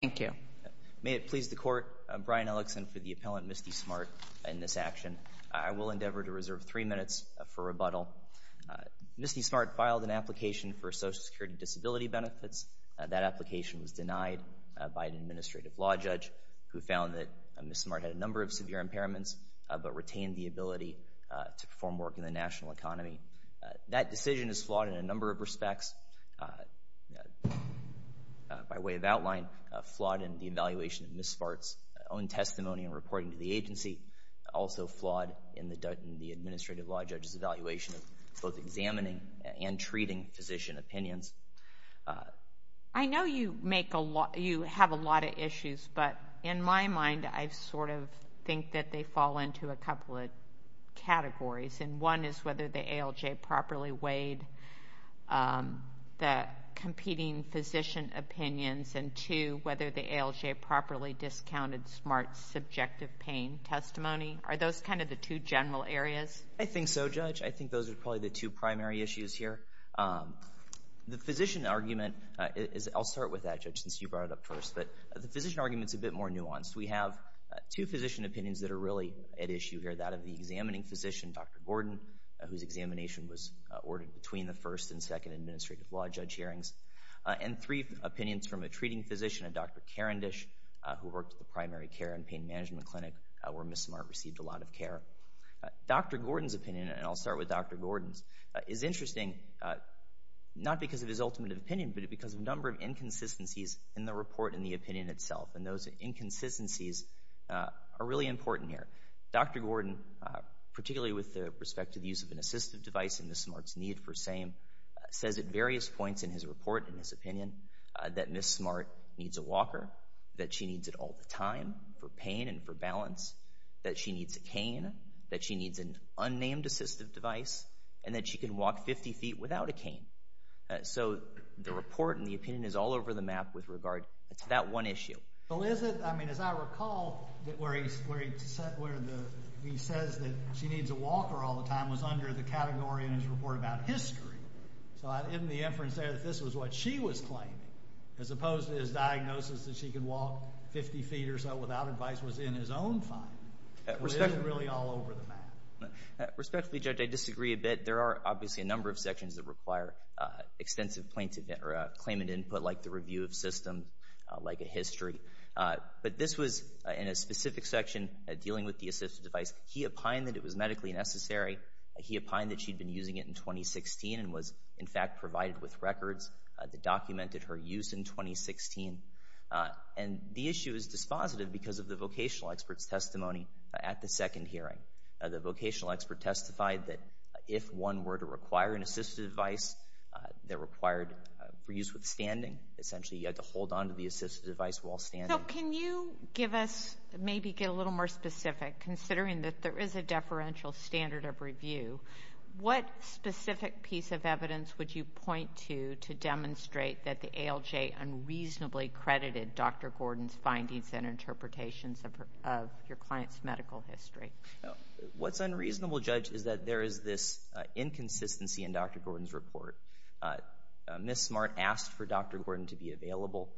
Thank you. May it please the Court, Brian Ellickson for the appellant Misty Smartt in this action. I will endeavor to reserve three minutes for rebuttal. Misty Smartt filed an application for Social Security disability benefits. That application was denied by an administrative law judge who found that Ms. Smartt had a number of severe impairments but retained the ability to perform work in the national economy. That decision is flawed in a number of respects. By way of outline, flawed in the evaluation of Ms. Smartt's own testimony and reporting to the agency. Also flawed in the administrative law judge's evaluation of both examining and treating physician opinions. Ms. Smartt I know you have a lot of issues, but in my mind I sort of think that they fall into a couple of categories. One is whether the ALJ properly weighed the competing physician opinions and two, whether the ALJ properly discounted Smartt's subjective pain testimony. Are those kind of the two general areas? I think so, Judge. I think those are probably the two primary issues here. The physician argument, I'll start with that Judge since you brought it up first, but the physician argument is a bit more nuanced. We have two physician opinions that are really at issue here. One is that of the examining physician, Dr. Gordon, whose examination was ordered between the first and second administrative law judge hearings. And three opinions from a treating physician, a Dr. Karendish, who worked at the primary care and pain management clinic where Ms. Smartt received a lot of care. Dr. Gordon's opinion, and I'll start with Dr. Gordon's, is interesting not because of his ultimate opinion, but because of a number of inconsistencies in the report and the opinion itself. And those inconsistencies are really important here. Dr. Gordon, particularly with the perspective use of an assistive device in Ms. Smartt's need for SAME, says at various points in his report and his opinion that Ms. Smartt needs a walker, that she needs it all the time for pain and for balance, that she needs a cane, that she needs an unnamed assistive device, and that she can walk 50 feet without a cane. So the report and the opinion is all over the map with regard to that one issue. Well, is it? I mean, as I recall, where he says that she needs a walker all the time was under the category in his report about history. So in the inference there that this was what she was claiming, as opposed to his diagnosis that she could walk 50 feet or so without advice was in his own finding. Respectfully, Judge, I disagree a bit. There are obviously a number of sections that require extensive claimant input, like the But this was in a specific section dealing with the assistive device. He opined that it was medically necessary. He opined that she'd been using it in 2016 and was, in fact, provided with records that documented her use in 2016. And the issue is dispositive because of the vocational expert's testimony at the second hearing. The vocational expert testified that if one were to require an assistive device that required for use withstanding, essentially, you had to hold on to the assistive device while standing. So can you give us, maybe get a little more specific, considering that there is a deferential standard of review, what specific piece of evidence would you point to to demonstrate that the ALJ unreasonably credited Dr. Gordon's findings and interpretations of your client's medical history? What's unreasonable, Judge, is that there is this inconsistency in Dr. Gordon's report. Ms. Smart asked for Dr. Gordon to be available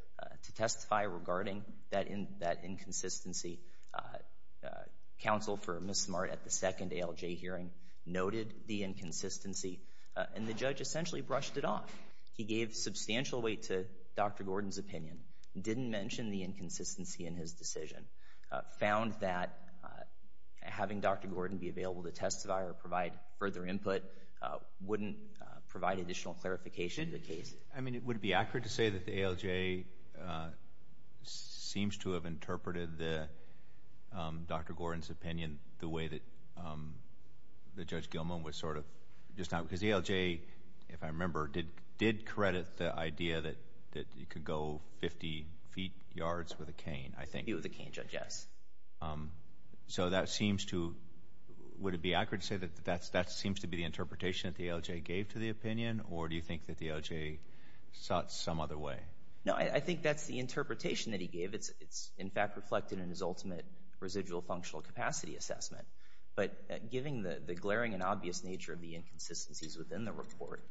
to testify regarding that inconsistency. Counsel for Ms. Smart at the second ALJ hearing noted the inconsistency, and the judge essentially brushed it off. He gave substantial weight to Dr. Gordon's opinion, didn't mention the inconsistency in his decision, found that having Dr. Gordon be available to testify or provide further input wouldn't provide additional clarification to the case. I mean, would it be accurate to say that the ALJ seems to have interpreted Dr. Gordon's opinion the way that Judge Gilman was sort of, because the ALJ, if I remember, did credit the idea that you could go 50 feet yards with a cane, I think. With a cane, Judge, yes. So that seems to, would it be accurate to say that that seems to be the interpretation that the ALJ gave to the opinion, or do you think that the ALJ sought some other way? No, I think that's the interpretation that he gave. It's in fact reflected in his ultimate residual functional capacity assessment. But given the glaring and obvious nature of the inconsistencies within the report,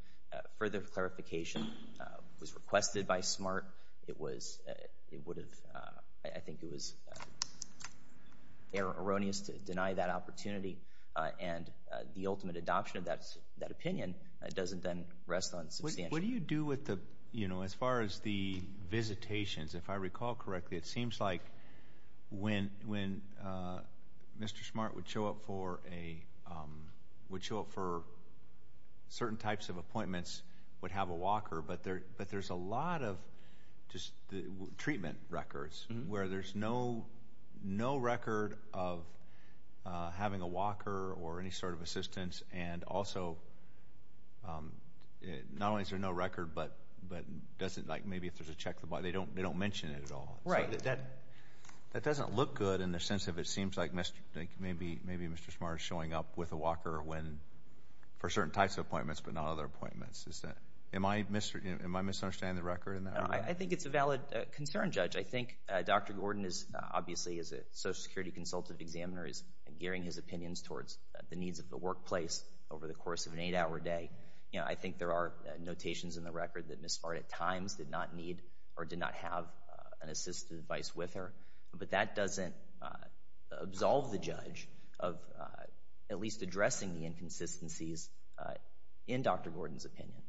further clarification was requested by Smart. It was, it would have, I think it was erroneous to deny that opportunity. And the ultimate adoption of that opinion doesn't then rest on substantial. What do you do with the, you know, as far as the visitations, if I recall correctly, it seems like when Mr. Smart would show up for a, would show up for certain types of appointments, would have a walker, but there's a lot of just the treatment records where there's no record of having a walker or any sort of assistance, and also not only is there no record, but doesn't, like maybe if there's a check, they don't mention it at all. Right. So that doesn't look good in the sense of it seems like maybe Mr. Smart is showing up with a walker when, for certain types of appointments, but not other appointments. Am I misunderstanding the record in that regard? No, I think it's a valid concern, Judge. I think Dr. Gordon is obviously, as a social security consultant examiner, is gearing his opinions towards the needs of the workplace over the course of an eight-hour day. You know, I think there are notations in the record that Ms. Smart at times did not need to have an assistive device with her, but that doesn't absolve the judge of at least addressing the inconsistencies in Dr. Gordon's opinion.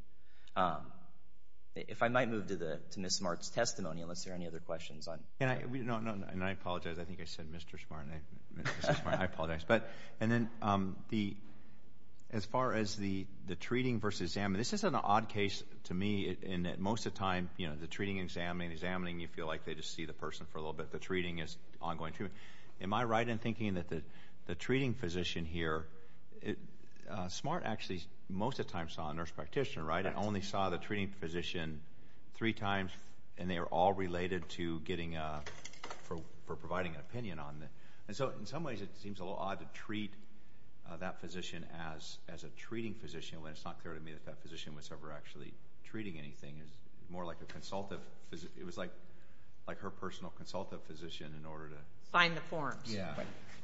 If I might move to Ms. Smart's testimony, unless there are any other questions on. No, no, and I apologize. I think I said Mr. Smart, and I apologize. But and then the, as far as the treating versus examining, this is an odd case to me in that most of the time, you know, the treating, examining, examining, you feel like they just see the person for a little bit. The treating is ongoing treatment. Am I right in thinking that the treating physician here, Smart actually most of the time saw a nurse practitioner, right? I only saw the treating physician three times, and they were all related to getting a, for providing an opinion on it. And so, in some ways, it seems a little odd to treat that physician as a treating physician when it's not clear to me that that physician was ever actually treating anything. It was more like a consultive, it was like her personal consultive physician in order to find the forms. Yeah.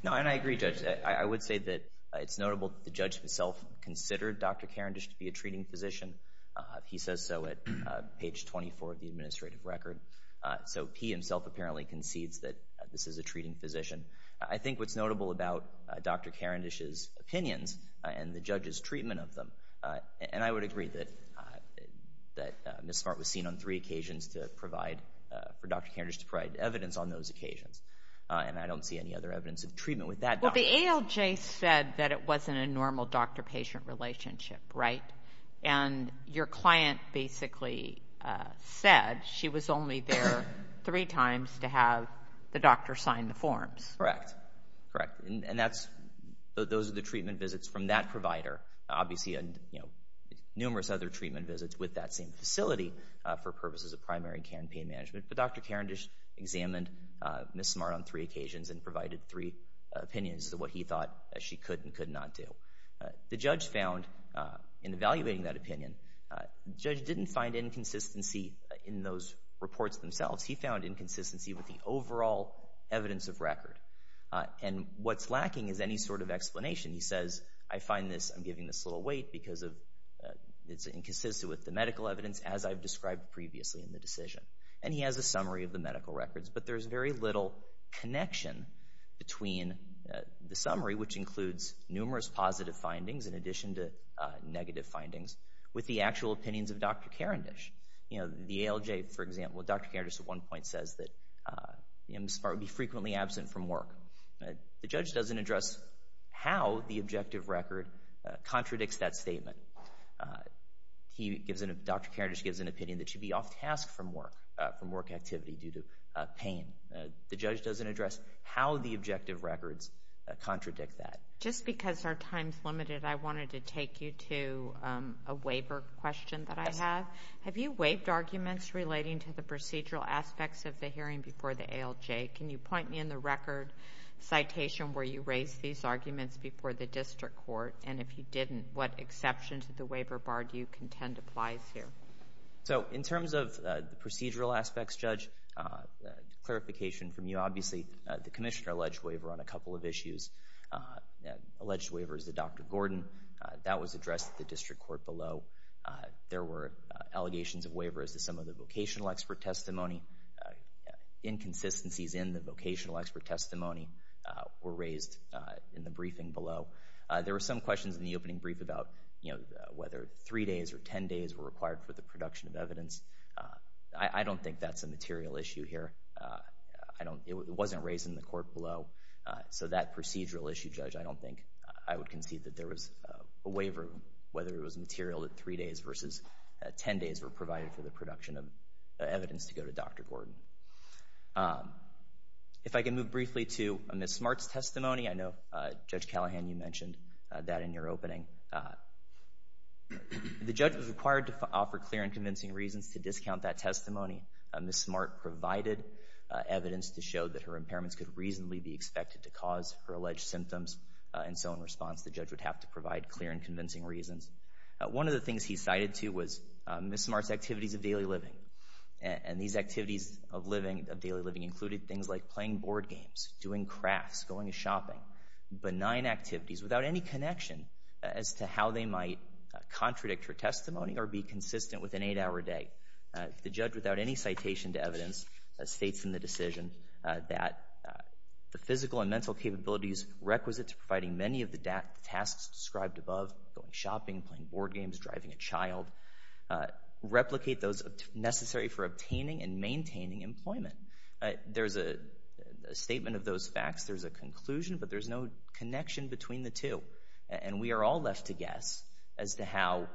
No, and I agree, Judge. I would say that it's notable that the judge himself considered Dr. Karendish to be a treating physician. He says so at page 24 of the administrative record. So he himself apparently concedes that this is a treating physician. I think what's notable about Dr. Karendish's opinions and the judge's treatment of them, and I would agree that Ms. Smart was seen on three occasions to provide, for Dr. Karendish to provide evidence on those occasions, and I don't see any other evidence of treatment with that doctor. Well, the ALJ said that it wasn't a normal doctor-patient relationship, right? And your client basically said she was only there three times to have the doctor sign the forms. Correct. Correct. And that's, those are the treatment visits from that provider, obviously, and numerous other treatment visits with that same facility for purposes of primary care and pain management. But Dr. Karendish examined Ms. Smart on three occasions and provided three opinions of what he thought she could and could not do. The judge found, in evaluating that opinion, the judge didn't find inconsistency in those reports themselves. He found inconsistency with the overall evidence of record, and what's lacking is any sort of explanation. He says, I find this, I'm giving this little weight because it's inconsistent with the medical evidence, as I've described previously in the decision. And he has a summary of the medical records, but there's very little connection between the summary, which includes numerous positive findings in addition to negative findings, with the actual opinions of Dr. Karendish. You know, the ALJ, for example, Dr. Karendish at one point says that Ms. Smart would be frequently absent from work. The judge doesn't address how the objective record contradicts that statement. He gives an, Dr. Karendish gives an opinion that she'd be off task from work, from work activity due to pain. The judge doesn't address how the objective records contradict that. Just because our time's limited, I wanted to take you to a waiver question that I have. Have you waived arguments relating to the procedural aspects of the hearing before the ALJ? Can you point me in the record citation where you raised these arguments before the district court? And if you didn't, what exception to the waiver bar do you contend applies here? So in terms of the procedural aspects, Judge, clarification from you, obviously, the commissioner alleged waiver on a couple of issues. Alleged waiver is that Dr. Gordon, that was addressed at the district court below. There were allegations of waiver as to some of the vocational expert testimony, inconsistencies in the vocational expert testimony were raised in the briefing below. There were some questions in the opening brief about, you know, whether three days or ten days were required for the production of evidence. I don't think that's a material issue here. It wasn't raised in the court below. So that procedural issue, Judge, I don't think I would concede that there was a waiver, whether it was material that three days versus ten days were provided for the production of evidence to go to Dr. Gordon. If I can move briefly to Ms. Smart's testimony, I know, Judge Callahan, you mentioned that in your opening. The judge was required to offer clear and convincing reasons to discount that testimony. Ms. Smart provided evidence to show that her impairments could reasonably be expected to cause her alleged symptoms, and so in response, the judge would have to provide clear and One of the things he cited, too, was Ms. Smart's activities of daily living, and these activities of daily living included things like playing board games, doing crafts, going shopping, benign activities without any connection as to how they might contradict her testimony or be consistent with an eight-hour day. The judge, without any citation to evidence, states in the decision that the physical and mental capabilities requisite to providing many of the tasks described above, going shopping, playing board games, driving a child, replicate those necessary for obtaining and maintaining employment. There's a statement of those facts. There's a conclusion, but there's no connection between the two, and we are all left to guess as to how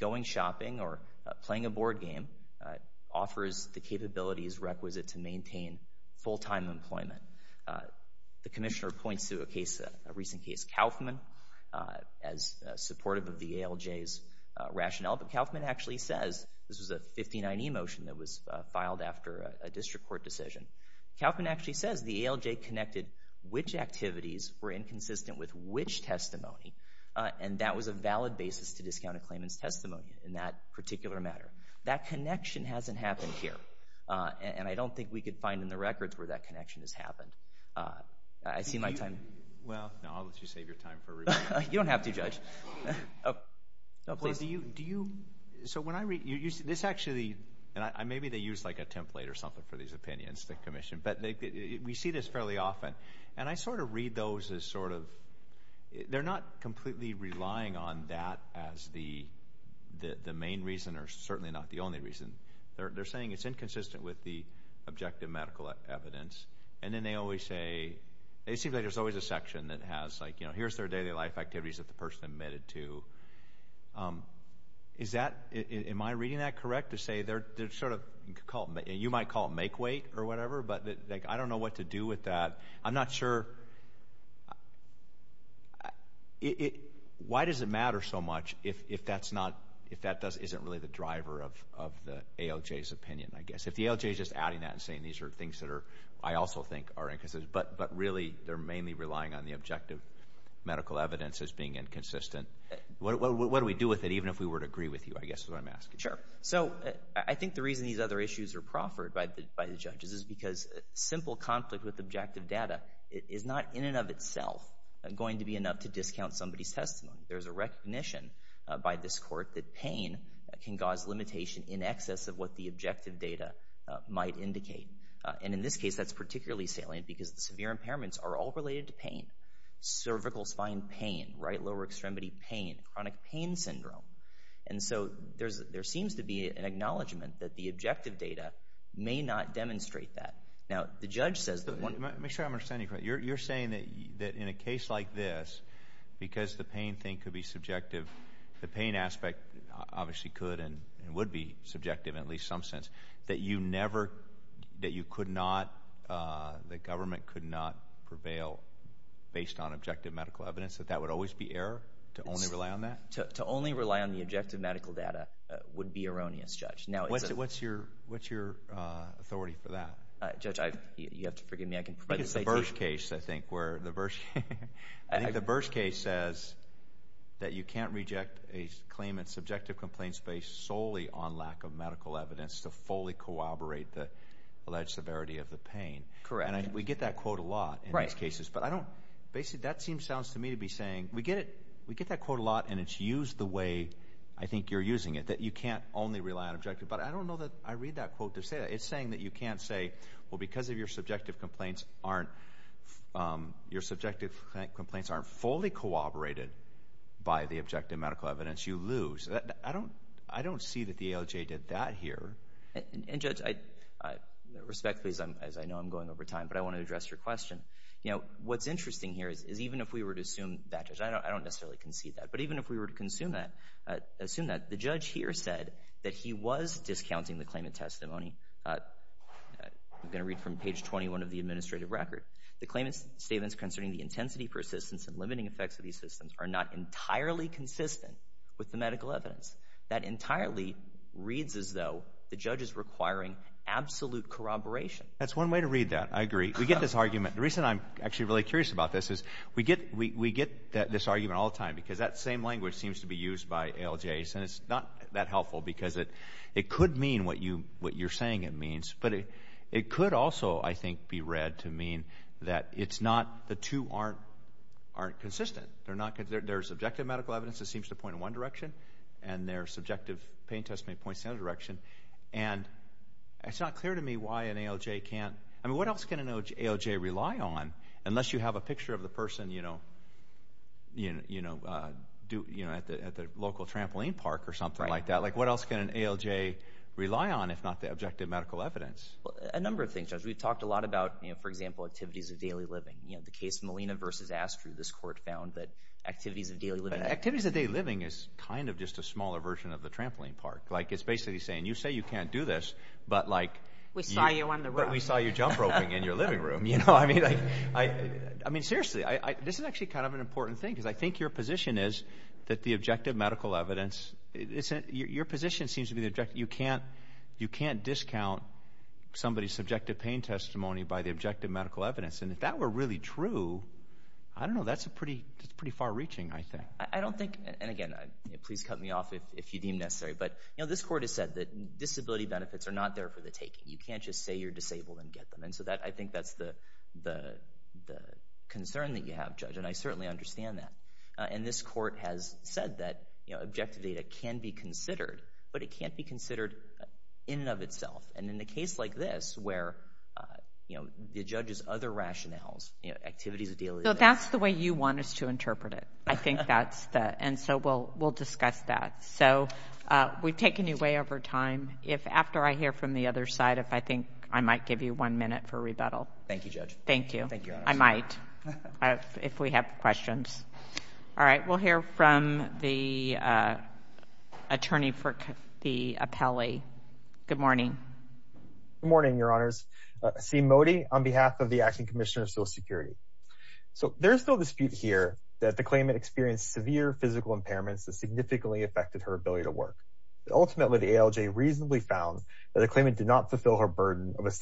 going shopping or playing a board game offers the capabilities requisite to maintain full-time employment. The commissioner points to a recent case, Kaufman, as supportive of the ALJ's rationale, but Kaufman actually says this was a 59E motion that was filed after a district court decision. Kaufman actually says the ALJ connected which activities were inconsistent with which testimony, and that was a valid basis to discount a claimant's testimony in that particular matter. That connection hasn't happened here, and I don't think we could find in the records where that connection has happened. I see my time. Well, no, I'll let you save your time for rebuttal. You don't have to, Judge. So when I read, this actually, and maybe they use like a template or something for these opinions, the commission, but we see this fairly often, and I sort of read those as sort of, they're not completely relying on that as the main reason or certainly not the only reason. They're saying it's inconsistent with the objective medical evidence, and then they always say, it seems like there's always a section that has like, you know, here's their daily life activities that the person admitted to. Is that, am I reading that correct to say they're sort of, you might call it make-weight or whatever, but I don't know what to do with that. I'm not sure, why does it matter so much if that's not, if that isn't really the driver of the ALJ's opinion, I guess? If the ALJ's just adding that and saying these are things that are, I also think are inconsistent, but really they're mainly relying on the objective medical evidence as being inconsistent, what do we do with it, even if we were to agree with you, I guess is what I'm asking. Sure. So I think the reason these other issues are proffered by the judges is because simple conflict with objective data is not in and of itself going to be enough to discount somebody's testimony. There's a recognition by this court that pain can cause limitation in excess of what the objective data might indicate. And in this case, that's particularly salient because the severe impairments are all related to pain. Cervical spine pain, right lower extremity pain, chronic pain syndrome. And so there seems to be an acknowledgment that the objective data may not demonstrate that. Now, the judge says that one- Let me make sure I'm understanding you correctly. You're saying that in a case like this, because the pain thing could be subjective, the pain aspect obviously could and would be subjective in at least some sense, that you never, that you could not, that government could not prevail based on objective medical evidence, that that would always be error to only rely on that? To only rely on the objective medical data would be erroneous, Judge. What's your authority for that? Judge, you have to forgive me. I think it's the Bursch case, I think, where the Bursch case says that you can't reject a claimant's subjective complaints based solely on lack of medical evidence to fully corroborate the alleged severity of the pain. Correct. And we get that quote a lot in these cases. But I don't, basically, that seems, sounds to me to be saying, we get it, we get that quote a lot and it's used the way I think you're using it. That you can't only rely on objective. But I don't know that I read that quote to say that. It's saying that you can't say, well, because of your subjective complaints aren't, your subjective complaints aren't fully corroborated by the objective medical evidence, you lose. I don't see that the ALJ did that here. And Judge, respectfully, as I know I'm going over time, but I want to address your question. You know, what's interesting here is even if we were to assume that, I don't necessarily concede that, but even if we were to assume that, the judge here said that he was discounting the claimant testimony, I'm going to read from page 21 of the administrative record. The claimant's statements concerning the intensity, persistence, and limiting effects of these systems are not entirely consistent with the medical evidence. That entirely reads as though the judge is requiring absolute corroboration. That's one way to read that. I agree. We get this argument. The reason I'm actually really curious about this is, we get, we get this argument all the time because that same language seems to be used by ALJs and it's not that helpful because it could mean what you're saying it means, but it could also, I think, be read to mean that it's not, the two aren't consistent. There's subjective medical evidence that seems to point in one direction, and there's subjective pain testimony that points in the other direction. And it's not clear to me why an ALJ can't, I mean, what else can an ALJ rely on unless you have a picture of the person, you know, at the local trampoline park or something like that? Like, what else can an ALJ rely on if not the objective medical evidence? A number of things, Judge. We've talked a lot about, you know, for example, activities of daily living. You know, the case Molina versus Astru, this court found that activities of daily living Activities of daily living is kind of just a smaller version of the trampoline park. Like it's basically saying, you say you can't do this, but like, we saw you on the road. We saw you jump roping in your living room. You know, I mean, I, I mean, seriously, I, this is actually kind of an important thing because I think your position is that the objective medical evidence isn't, your position seems to be that you can't, you can't discount somebody's subjective pain testimony by the objective medical evidence. And if that were really true, I don't know, that's a pretty, that's pretty far reaching, I think. I don't think, and again, please cut me off if, if you deem necessary, but, you know, this court has said that disability benefits are not there for the taking. You can't just say you're disabled and get them. And so that, I think that's the, the, the concern that you have, Judge. And I certainly understand that. And this court has said that, you know, objective data can be considered, but it can't be considered in and of itself. And in a case like this where, you know, the judge's other rationales, you know, activities of daily life. So that's the way you want us to interpret it. I think that's the, and so we'll, we'll discuss that. So we've taken you way over time. If after I hear from the other side, if I think I might give you one minute for rebuttal. Thank you, Judge. Thank you. Thank you, Your Honor. I might, if we have questions. All right. We'll hear from the attorney for the appellee. Good morning. Good morning, Your Honors. Sean Mody on behalf of the Acting Commissioner of Social Security. So there's no dispute here that the claimant experienced severe physical impairments that significantly affected her ability to work. Ultimately, the ALJ reasonably found that the claimant did not fulfill her burden of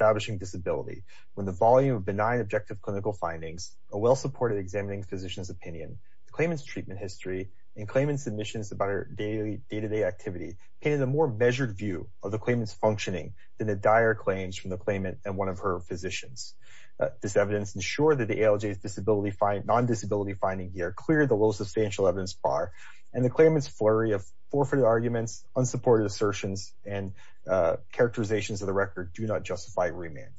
findings. A well-supported examining physician's opinion, the claimant's treatment history and claimant's submissions about her daily, day-to-day activity painted a more measured view of the claimant's functioning than the dire claims from the claimant and one of her physicians. This evidence ensured that the ALJ's disability, non-disability finding here cleared the low substantial evidence bar and the claimant's flurry of forfeited arguments, unsupported assertions and characterizations of the record do not justify remand.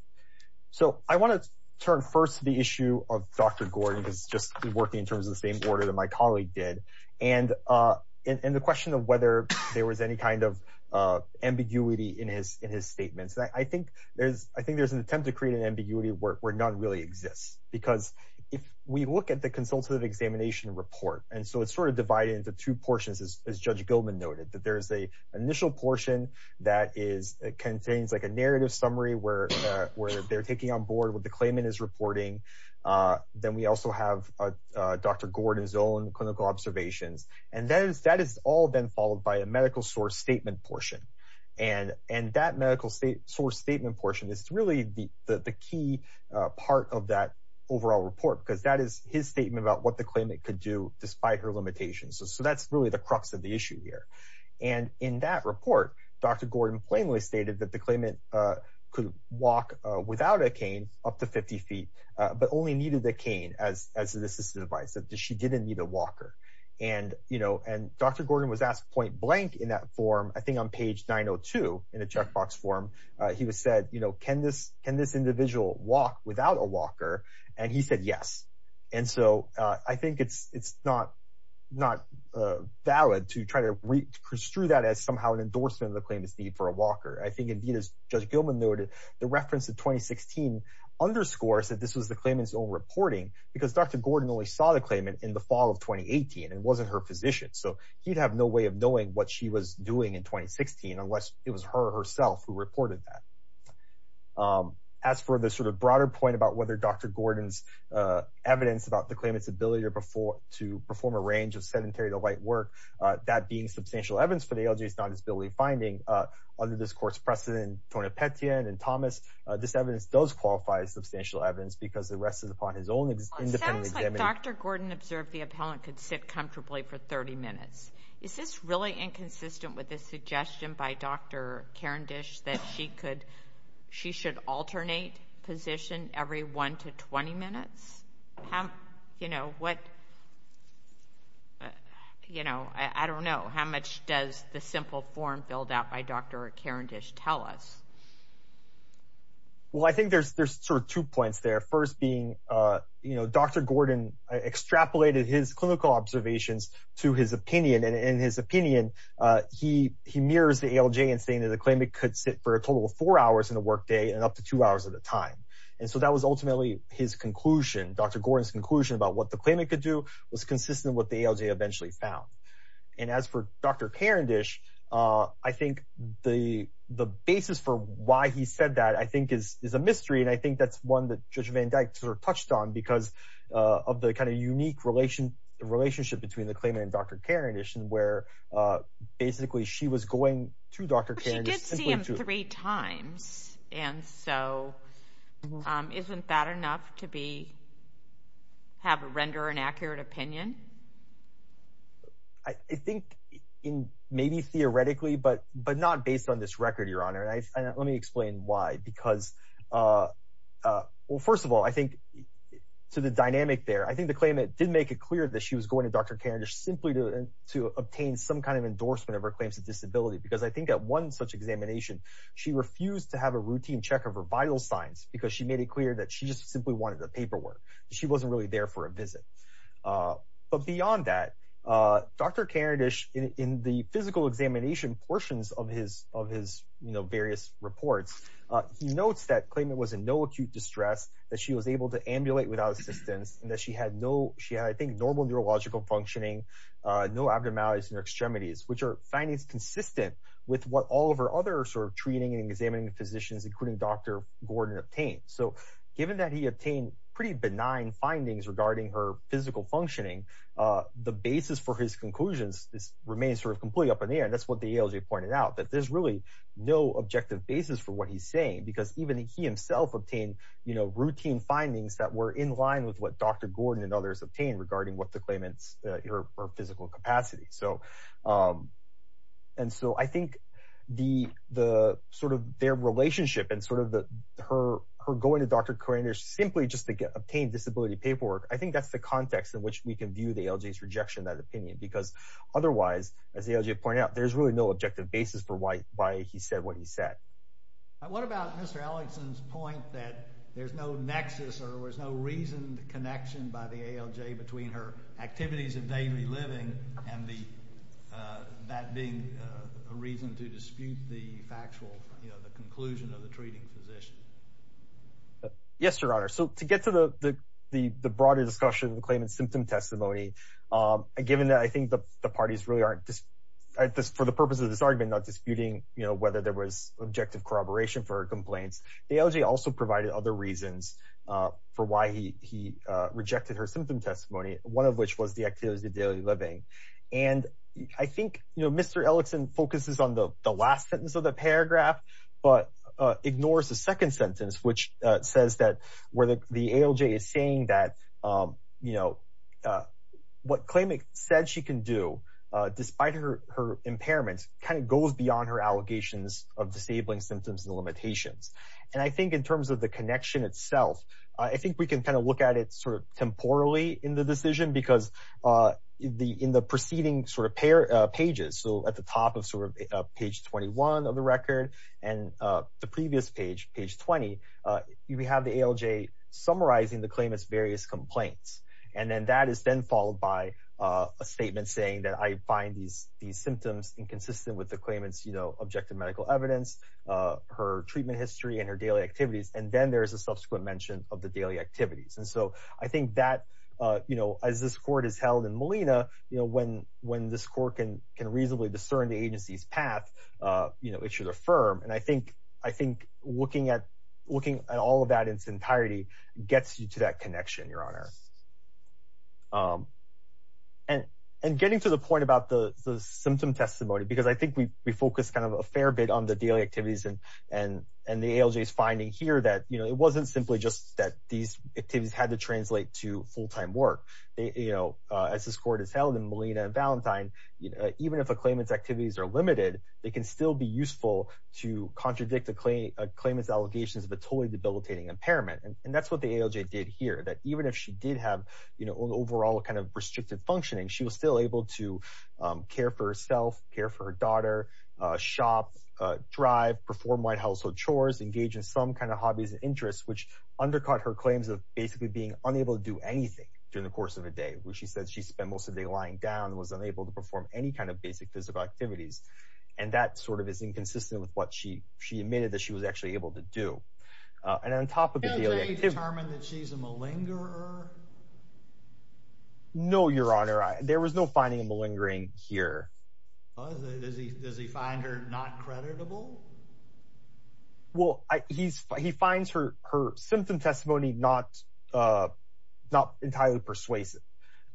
So I want to turn first to the issue of Dr. Gordon because it's just working in terms of the same order that my colleague did and the question of whether there was any kind of ambiguity in his statements. I think there's an attempt to create an ambiguity where none really exists because if we look at the consultative examination report, and so it's sort of divided into two portions as Judge Goldman noted, that there's an initial portion that contains like a narrative summary where they're taking on board what the claimant is reporting. Then we also have Dr. Gordon's own clinical observations and that has all been followed by a medical source statement portion and that medical state source statement portion is really the key part of that overall report because that is his statement about what the claimant could do despite her limitations. So that's really the crux of the issue here and in that report, Dr. Gordon plainly stated that the claimant could walk without a cane up to 50 feet, but only needed the cane as an assistive device, that she didn't need a walker and Dr. Gordon was asked point blank in that form, I think on page 902 in a checkbox form, he said, can this individual walk without a walker? And he said, yes. And so I think it's not valid to try to restrew that as somehow an endorsement of the claimant's need for a walker. I think indeed, as Judge Gilman noted, the reference to 2016 underscores that this was the claimant's own reporting because Dr. Gordon only saw the claimant in the fall of 2018 and wasn't her physician. So he'd have no way of knowing what she was doing in 2016 unless it was her herself who reported that. As for the sort of broader point about whether Dr. Gordon's evidence about the claimant's ability to perform a range of sedentary to light work, that being substantial evidence for the ALJ's non-disability finding, under this court's precedent, Tornapetian and Thomas, this evidence does qualify as substantial evidence because the rest is upon his own independent examination. It sounds like Dr. Gordon observed the appellant could sit comfortably for 30 minutes. Is this really inconsistent with the suggestion by Dr. Karendish that she should alternate position every one to 20 minutes? I don't know, how much does the simple form filled out by Dr. Karendish tell us? Well, I think there's sort of two points there, first being Dr. Gordon extrapolated his clinical observations to his opinion, and in his opinion, he mirrors the ALJ in saying that the claimant could sit for a total of four hours in a workday and up to two hours at a time. And so that was ultimately his conclusion. Dr. Gordon's conclusion about what the claimant could do was consistent with what the ALJ eventually found. And as for Dr. Karendish, I think the basis for why he said that, I think is a mystery. And I think that's one that Judge Van Dyke sort of touched on because of the kind of unique relationship between the claimant and Dr. Karendish and where basically she was going to Dr. Karendish. I did see him three times, and so isn't that enough to have a render an accurate opinion? I think maybe theoretically, but not based on this record, Your Honor. And let me explain why because, well, first of all, I think to the dynamic there, I think the claimant did make it clear that she was going to Dr. Karendish simply to obtain some kind of endorsement of her claims of disability because I think at one such examination, she refused to have a routine check of her vital signs because she made it clear that she just simply wanted the paperwork. She wasn't really there for a visit. But beyond that, Dr. Karendish in the physical examination portions of his various reports, he notes that claimant was in no acute distress, that she was able to ambulate without assistance, and that she had, I think, normal neurological functioning, no abnormalities in her extremities, which are findings consistent with what all of her other sort of treating and examining physicians, including Dr. Gordon, obtained. So given that he obtained pretty benign findings regarding her physical functioning, the basis for his conclusions remains sort of completely up in the air, and that's what the ALJ pointed out, that there's really no objective basis for what he's saying because even he himself obtained routine findings that were in line with what Dr. Gordon and others obtained regarding what the claimant's physical capacity. I think their relationship and her going to Dr. Karendish simply just to obtain disability paperwork, I think that's the context in which we can view the ALJ's rejection of that opinion because otherwise, as the ALJ pointed out, there's really no objective basis for why he said what he said. What about Mr. Ellickson's point that there's no nexus or there's no reasoned connection by the ALJ between her activities of daily living and that being a reason to dispute the factual conclusion of the treating physician? Yes, Your Honor. So to get to the broader discussion of the claimant's symptom testimony, given that I think the parties really aren't, for the purpose of this argument, not disputing whether there was objective corroboration for her complaints, the ALJ also provided other reasons for why he rejected her symptom testimony, one of which was the activities of daily living. And I think Mr. Ellickson focuses on the last sentence of the paragraph but ignores the second sentence, which says that where the ALJ is saying that what claimant said she can do despite her impairments kind of goes beyond her allegations of disabling symptoms and limitations. And I think in terms of the connection itself, I think we can kind of look at it sort of temporally in the decision because in the preceding sort of pages, so at the top of sort of page 21 of the record and the previous page, page 20, we have the ALJ summarizing the claimant's various complaints. And then that is then followed by a statement saying that I find these symptoms inconsistent with the claimant's, you know, objective medical evidence, her treatment history and her daily activities. And then there's a subsequent mention of the daily activities. And so I think that, you know, as this court is held in Molina, you know, when this court can reasonably discern the agency's path, you know, it should affirm. And I think looking at all of that in its entirety gets you to that connection, Your Honor. And getting to the point about the symptom testimony, because I think we focus kind of a fair bit on the daily activities and the ALJ's finding here that, you know, it wasn't simply just that these activities had to translate to full-time work. You know, as this court is held in Molina and Valentine, even if a claimant's activities are limited, they can still be useful to contradict a claimant's allegations of a totally debilitating impairment. And that's what the ALJ did here. That even if she did have, you know, an overall kind of restricted functioning, she was still able to care for herself, care for her daughter, shop, drive, perform white household chores, engage in some kind of hobbies and interests, which undercut her claims of basically being unable to do anything during the course of a day, which she says she spent most of the day lying down and was unable to perform any kind of basic physical activities. And that sort of is inconsistent with what she admitted that she was actually able to do. And on top of the daily activities... Did the ALJ determine that she's a malingerer? No, Your Honor. There was no finding of malingering here. Does he find her not creditable? Well, he finds her symptom testimony not entirely persuasive.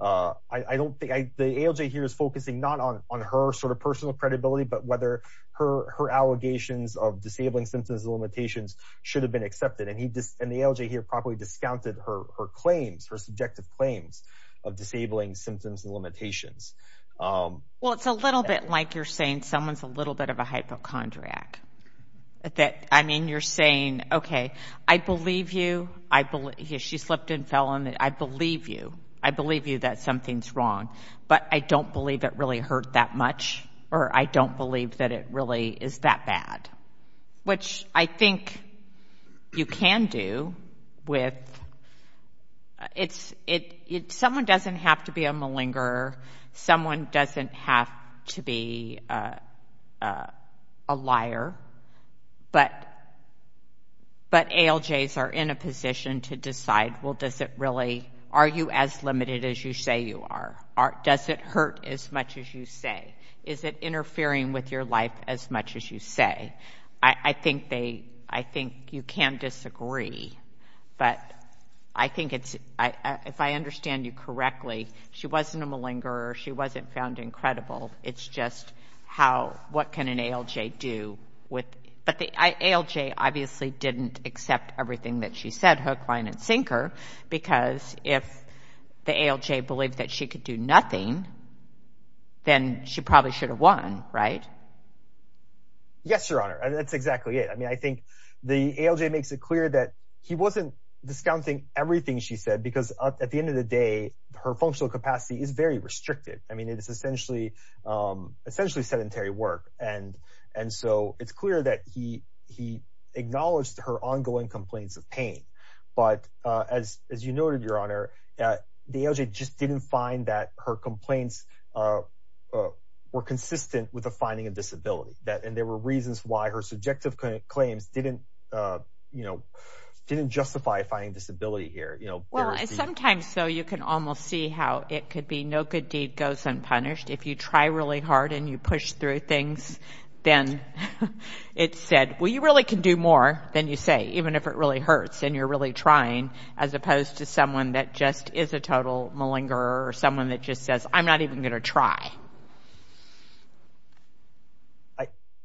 I don't think... The ALJ here is focusing not on her sort of personal credibility, but whether her allegations of disabling symptoms and limitations should have been accepted. And the ALJ here probably discounted her claims, her subjective claims of disabling symptoms and limitations. Well, it's a little bit like you're saying someone's a little bit of a hypochondriac. I mean, you're saying, okay, I believe you. She slipped and fell on the... I believe you. I believe you that something's wrong. But I don't believe it really hurt that much, or I don't believe that it really is that bad, which I think you can do with... Someone doesn't have to be a malingerer. Someone doesn't have to be a liar. But ALJs are in a position to decide, well, does it really... Are you as limited as you say you are? Does it hurt as much as you say? Is it interfering with your life as much as you say? I think you can disagree, but I think it's... If I understand you correctly, she wasn't a malingerer. She wasn't found incredible. It's just how... What can an ALJ do with... But the ALJ obviously didn't accept everything that she said, hook, line, and sinker, because if the ALJ believed that she could do nothing, then she probably should have won, right? Yes, Your Honor. That's exactly it. I mean, I think the ALJ makes it clear that he wasn't discounting everything she said because at the end of the day, her functional capacity is very restricted. I mean, it is essentially sedentary work. And so it's clear that he acknowledged her ongoing complaints of pain. But as you noted, Your Honor, the ALJ just didn't find that her complaints were consistent with the finding of disability, and there were reasons why her subjective claims didn't justify finding disability here. Well, sometimes, though, you can almost see how it could be no good deed goes unpunished. If you try really hard and you push through things, then it's said, well, you really can do more than you say, even if it really hurts and you're really trying, as opposed to someone that just is a total malingerer or someone that just says, I'm not even going to try.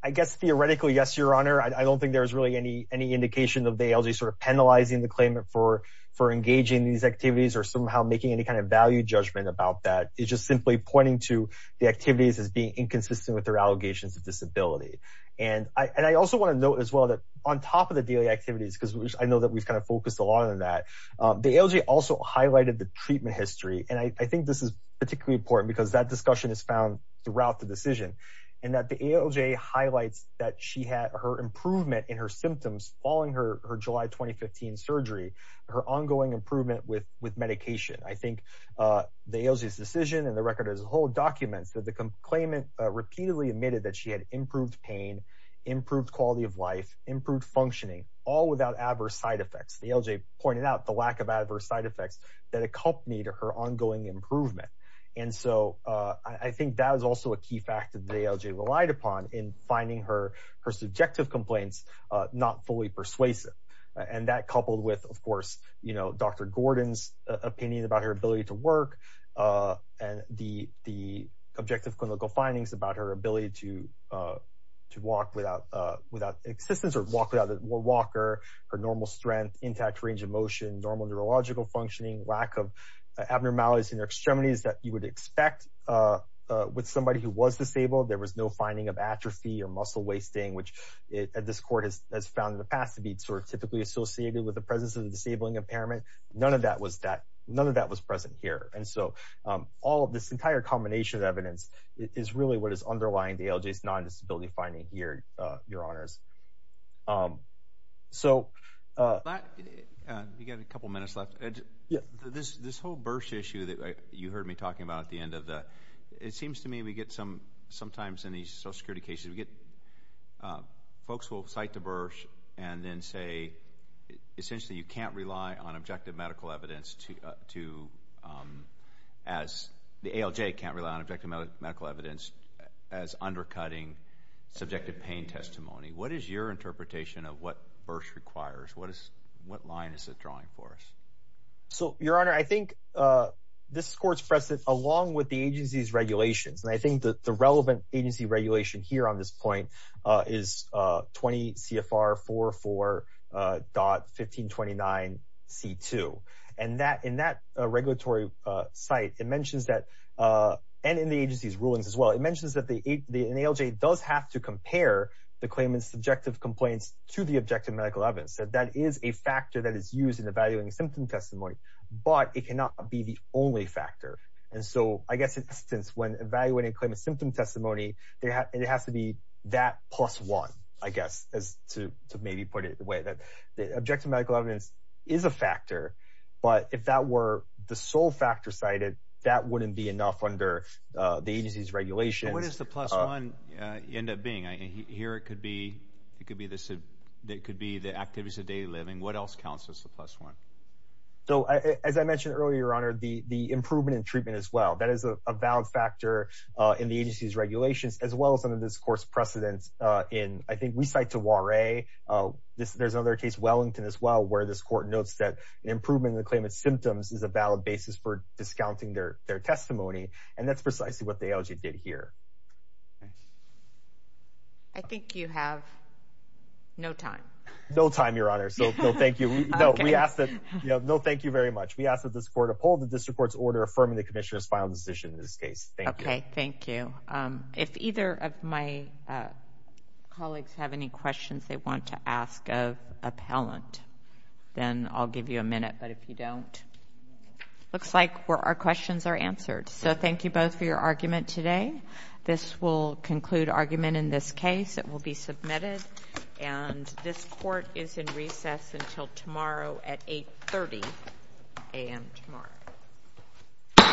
I guess theoretically, yes, Your Honor. I don't think there's really any indication of the ALJ sort of penalizing the claimant for engaging in these activities or somehow making any kind of value judgment about that. It's just simply pointing to the activities as being inconsistent with their allegations of disability. And I also want to note as well that on top of the daily activities, because I know that we've kind of focused a lot on that, the ALJ also highlighted the treatment history. And I think this is particularly important because that discussion is found throughout the decision and that the ALJ highlights that she had her improvement in her symptoms following her July 2015 surgery, her ongoing improvement with medication. I think the ALJ's decision and the record as a whole documents that the claimant repeatedly admitted that she had improved pain, improved quality of life, improved functioning, all without adverse side effects. The ALJ pointed out the lack of adverse side effects that accompanied her ongoing improvement. And so I think that was also a key fact that the ALJ relied upon in finding her subjective complaints not fully persuasive. And that coupled with, of course, Dr. Gordon's opinion about her ability to work and the objective clinical findings about her ability to walk without assistance or walk without a walker, her normal strength, intact range of motion, normal neurological functioning, lack of abnormalities in her extremities that you would expect with somebody who was disabled. There was no finding of atrophy or muscle wasting, which this court has found in the past to be sort of typically associated with the presence of a disabling impairment. None of that was that none of that was present here. And so all of this entire combination of evidence is really what is underlying the ALJ's non-disability finding here, Your Honors. So. You've got a couple minutes left. Yeah. This whole BERSH issue that you heard me talking about at the end of that, it seems to me we get some sometimes in these social security cases we get folks will cite the BERSH and then say essentially you can't rely on objective medical evidence to as the ALJ can't rely on objective medical evidence as undercutting subjective pain testimony. What is your interpretation of what BERSH requires? What is what line is it drawing for us? So, Your Honor, I think this court's precedent along with the agency's regulations, and I think that the relevant agency regulation here on this point is 20 CFR 4.1529C2. And that in that regulatory site, it mentions that and in the agency's rulings as well, it mentions that the ALJ does have to compare the claimant's subjective complaints to the objective medical evidence. So that is a factor that is used in evaluating symptom testimony, but it cannot be the only factor. And so I guess in this instance, when evaluating claimant symptom testimony, it has to be that plus one, I guess, as to maybe put it the way that the objective medical evidence is a factor. But if that were the sole factor cited, that wouldn't be enough under the agency's regulations. So what does the plus one end up being? Here it could be the activities of daily living. What else counts as the plus one? So as I mentioned earlier, Your Honor, the improvement in treatment as well. That is a valid factor in the agency's regulations as well as under this court's precedent. I think we cite to Warre. There's another case, Wellington as well, where this court notes that an improvement in the claimant's symptoms is a valid basis for discounting their testimony. And that's precisely what the ALJ did here. I think you have no time. No time, Your Honor. So thank you. No, thank you very much. We ask that this court uphold the district court's order affirming the commissioner's final decision in this case. Thank you. Okay, thank you. If either of my colleagues have any questions they want to ask of appellant, then I'll give you a minute. But if you don't, it looks like our questions are answered. So thank you both for your argument today. This will conclude argument in this case. It will be submitted. And this court is in recess until tomorrow at 830 a.m. tomorrow.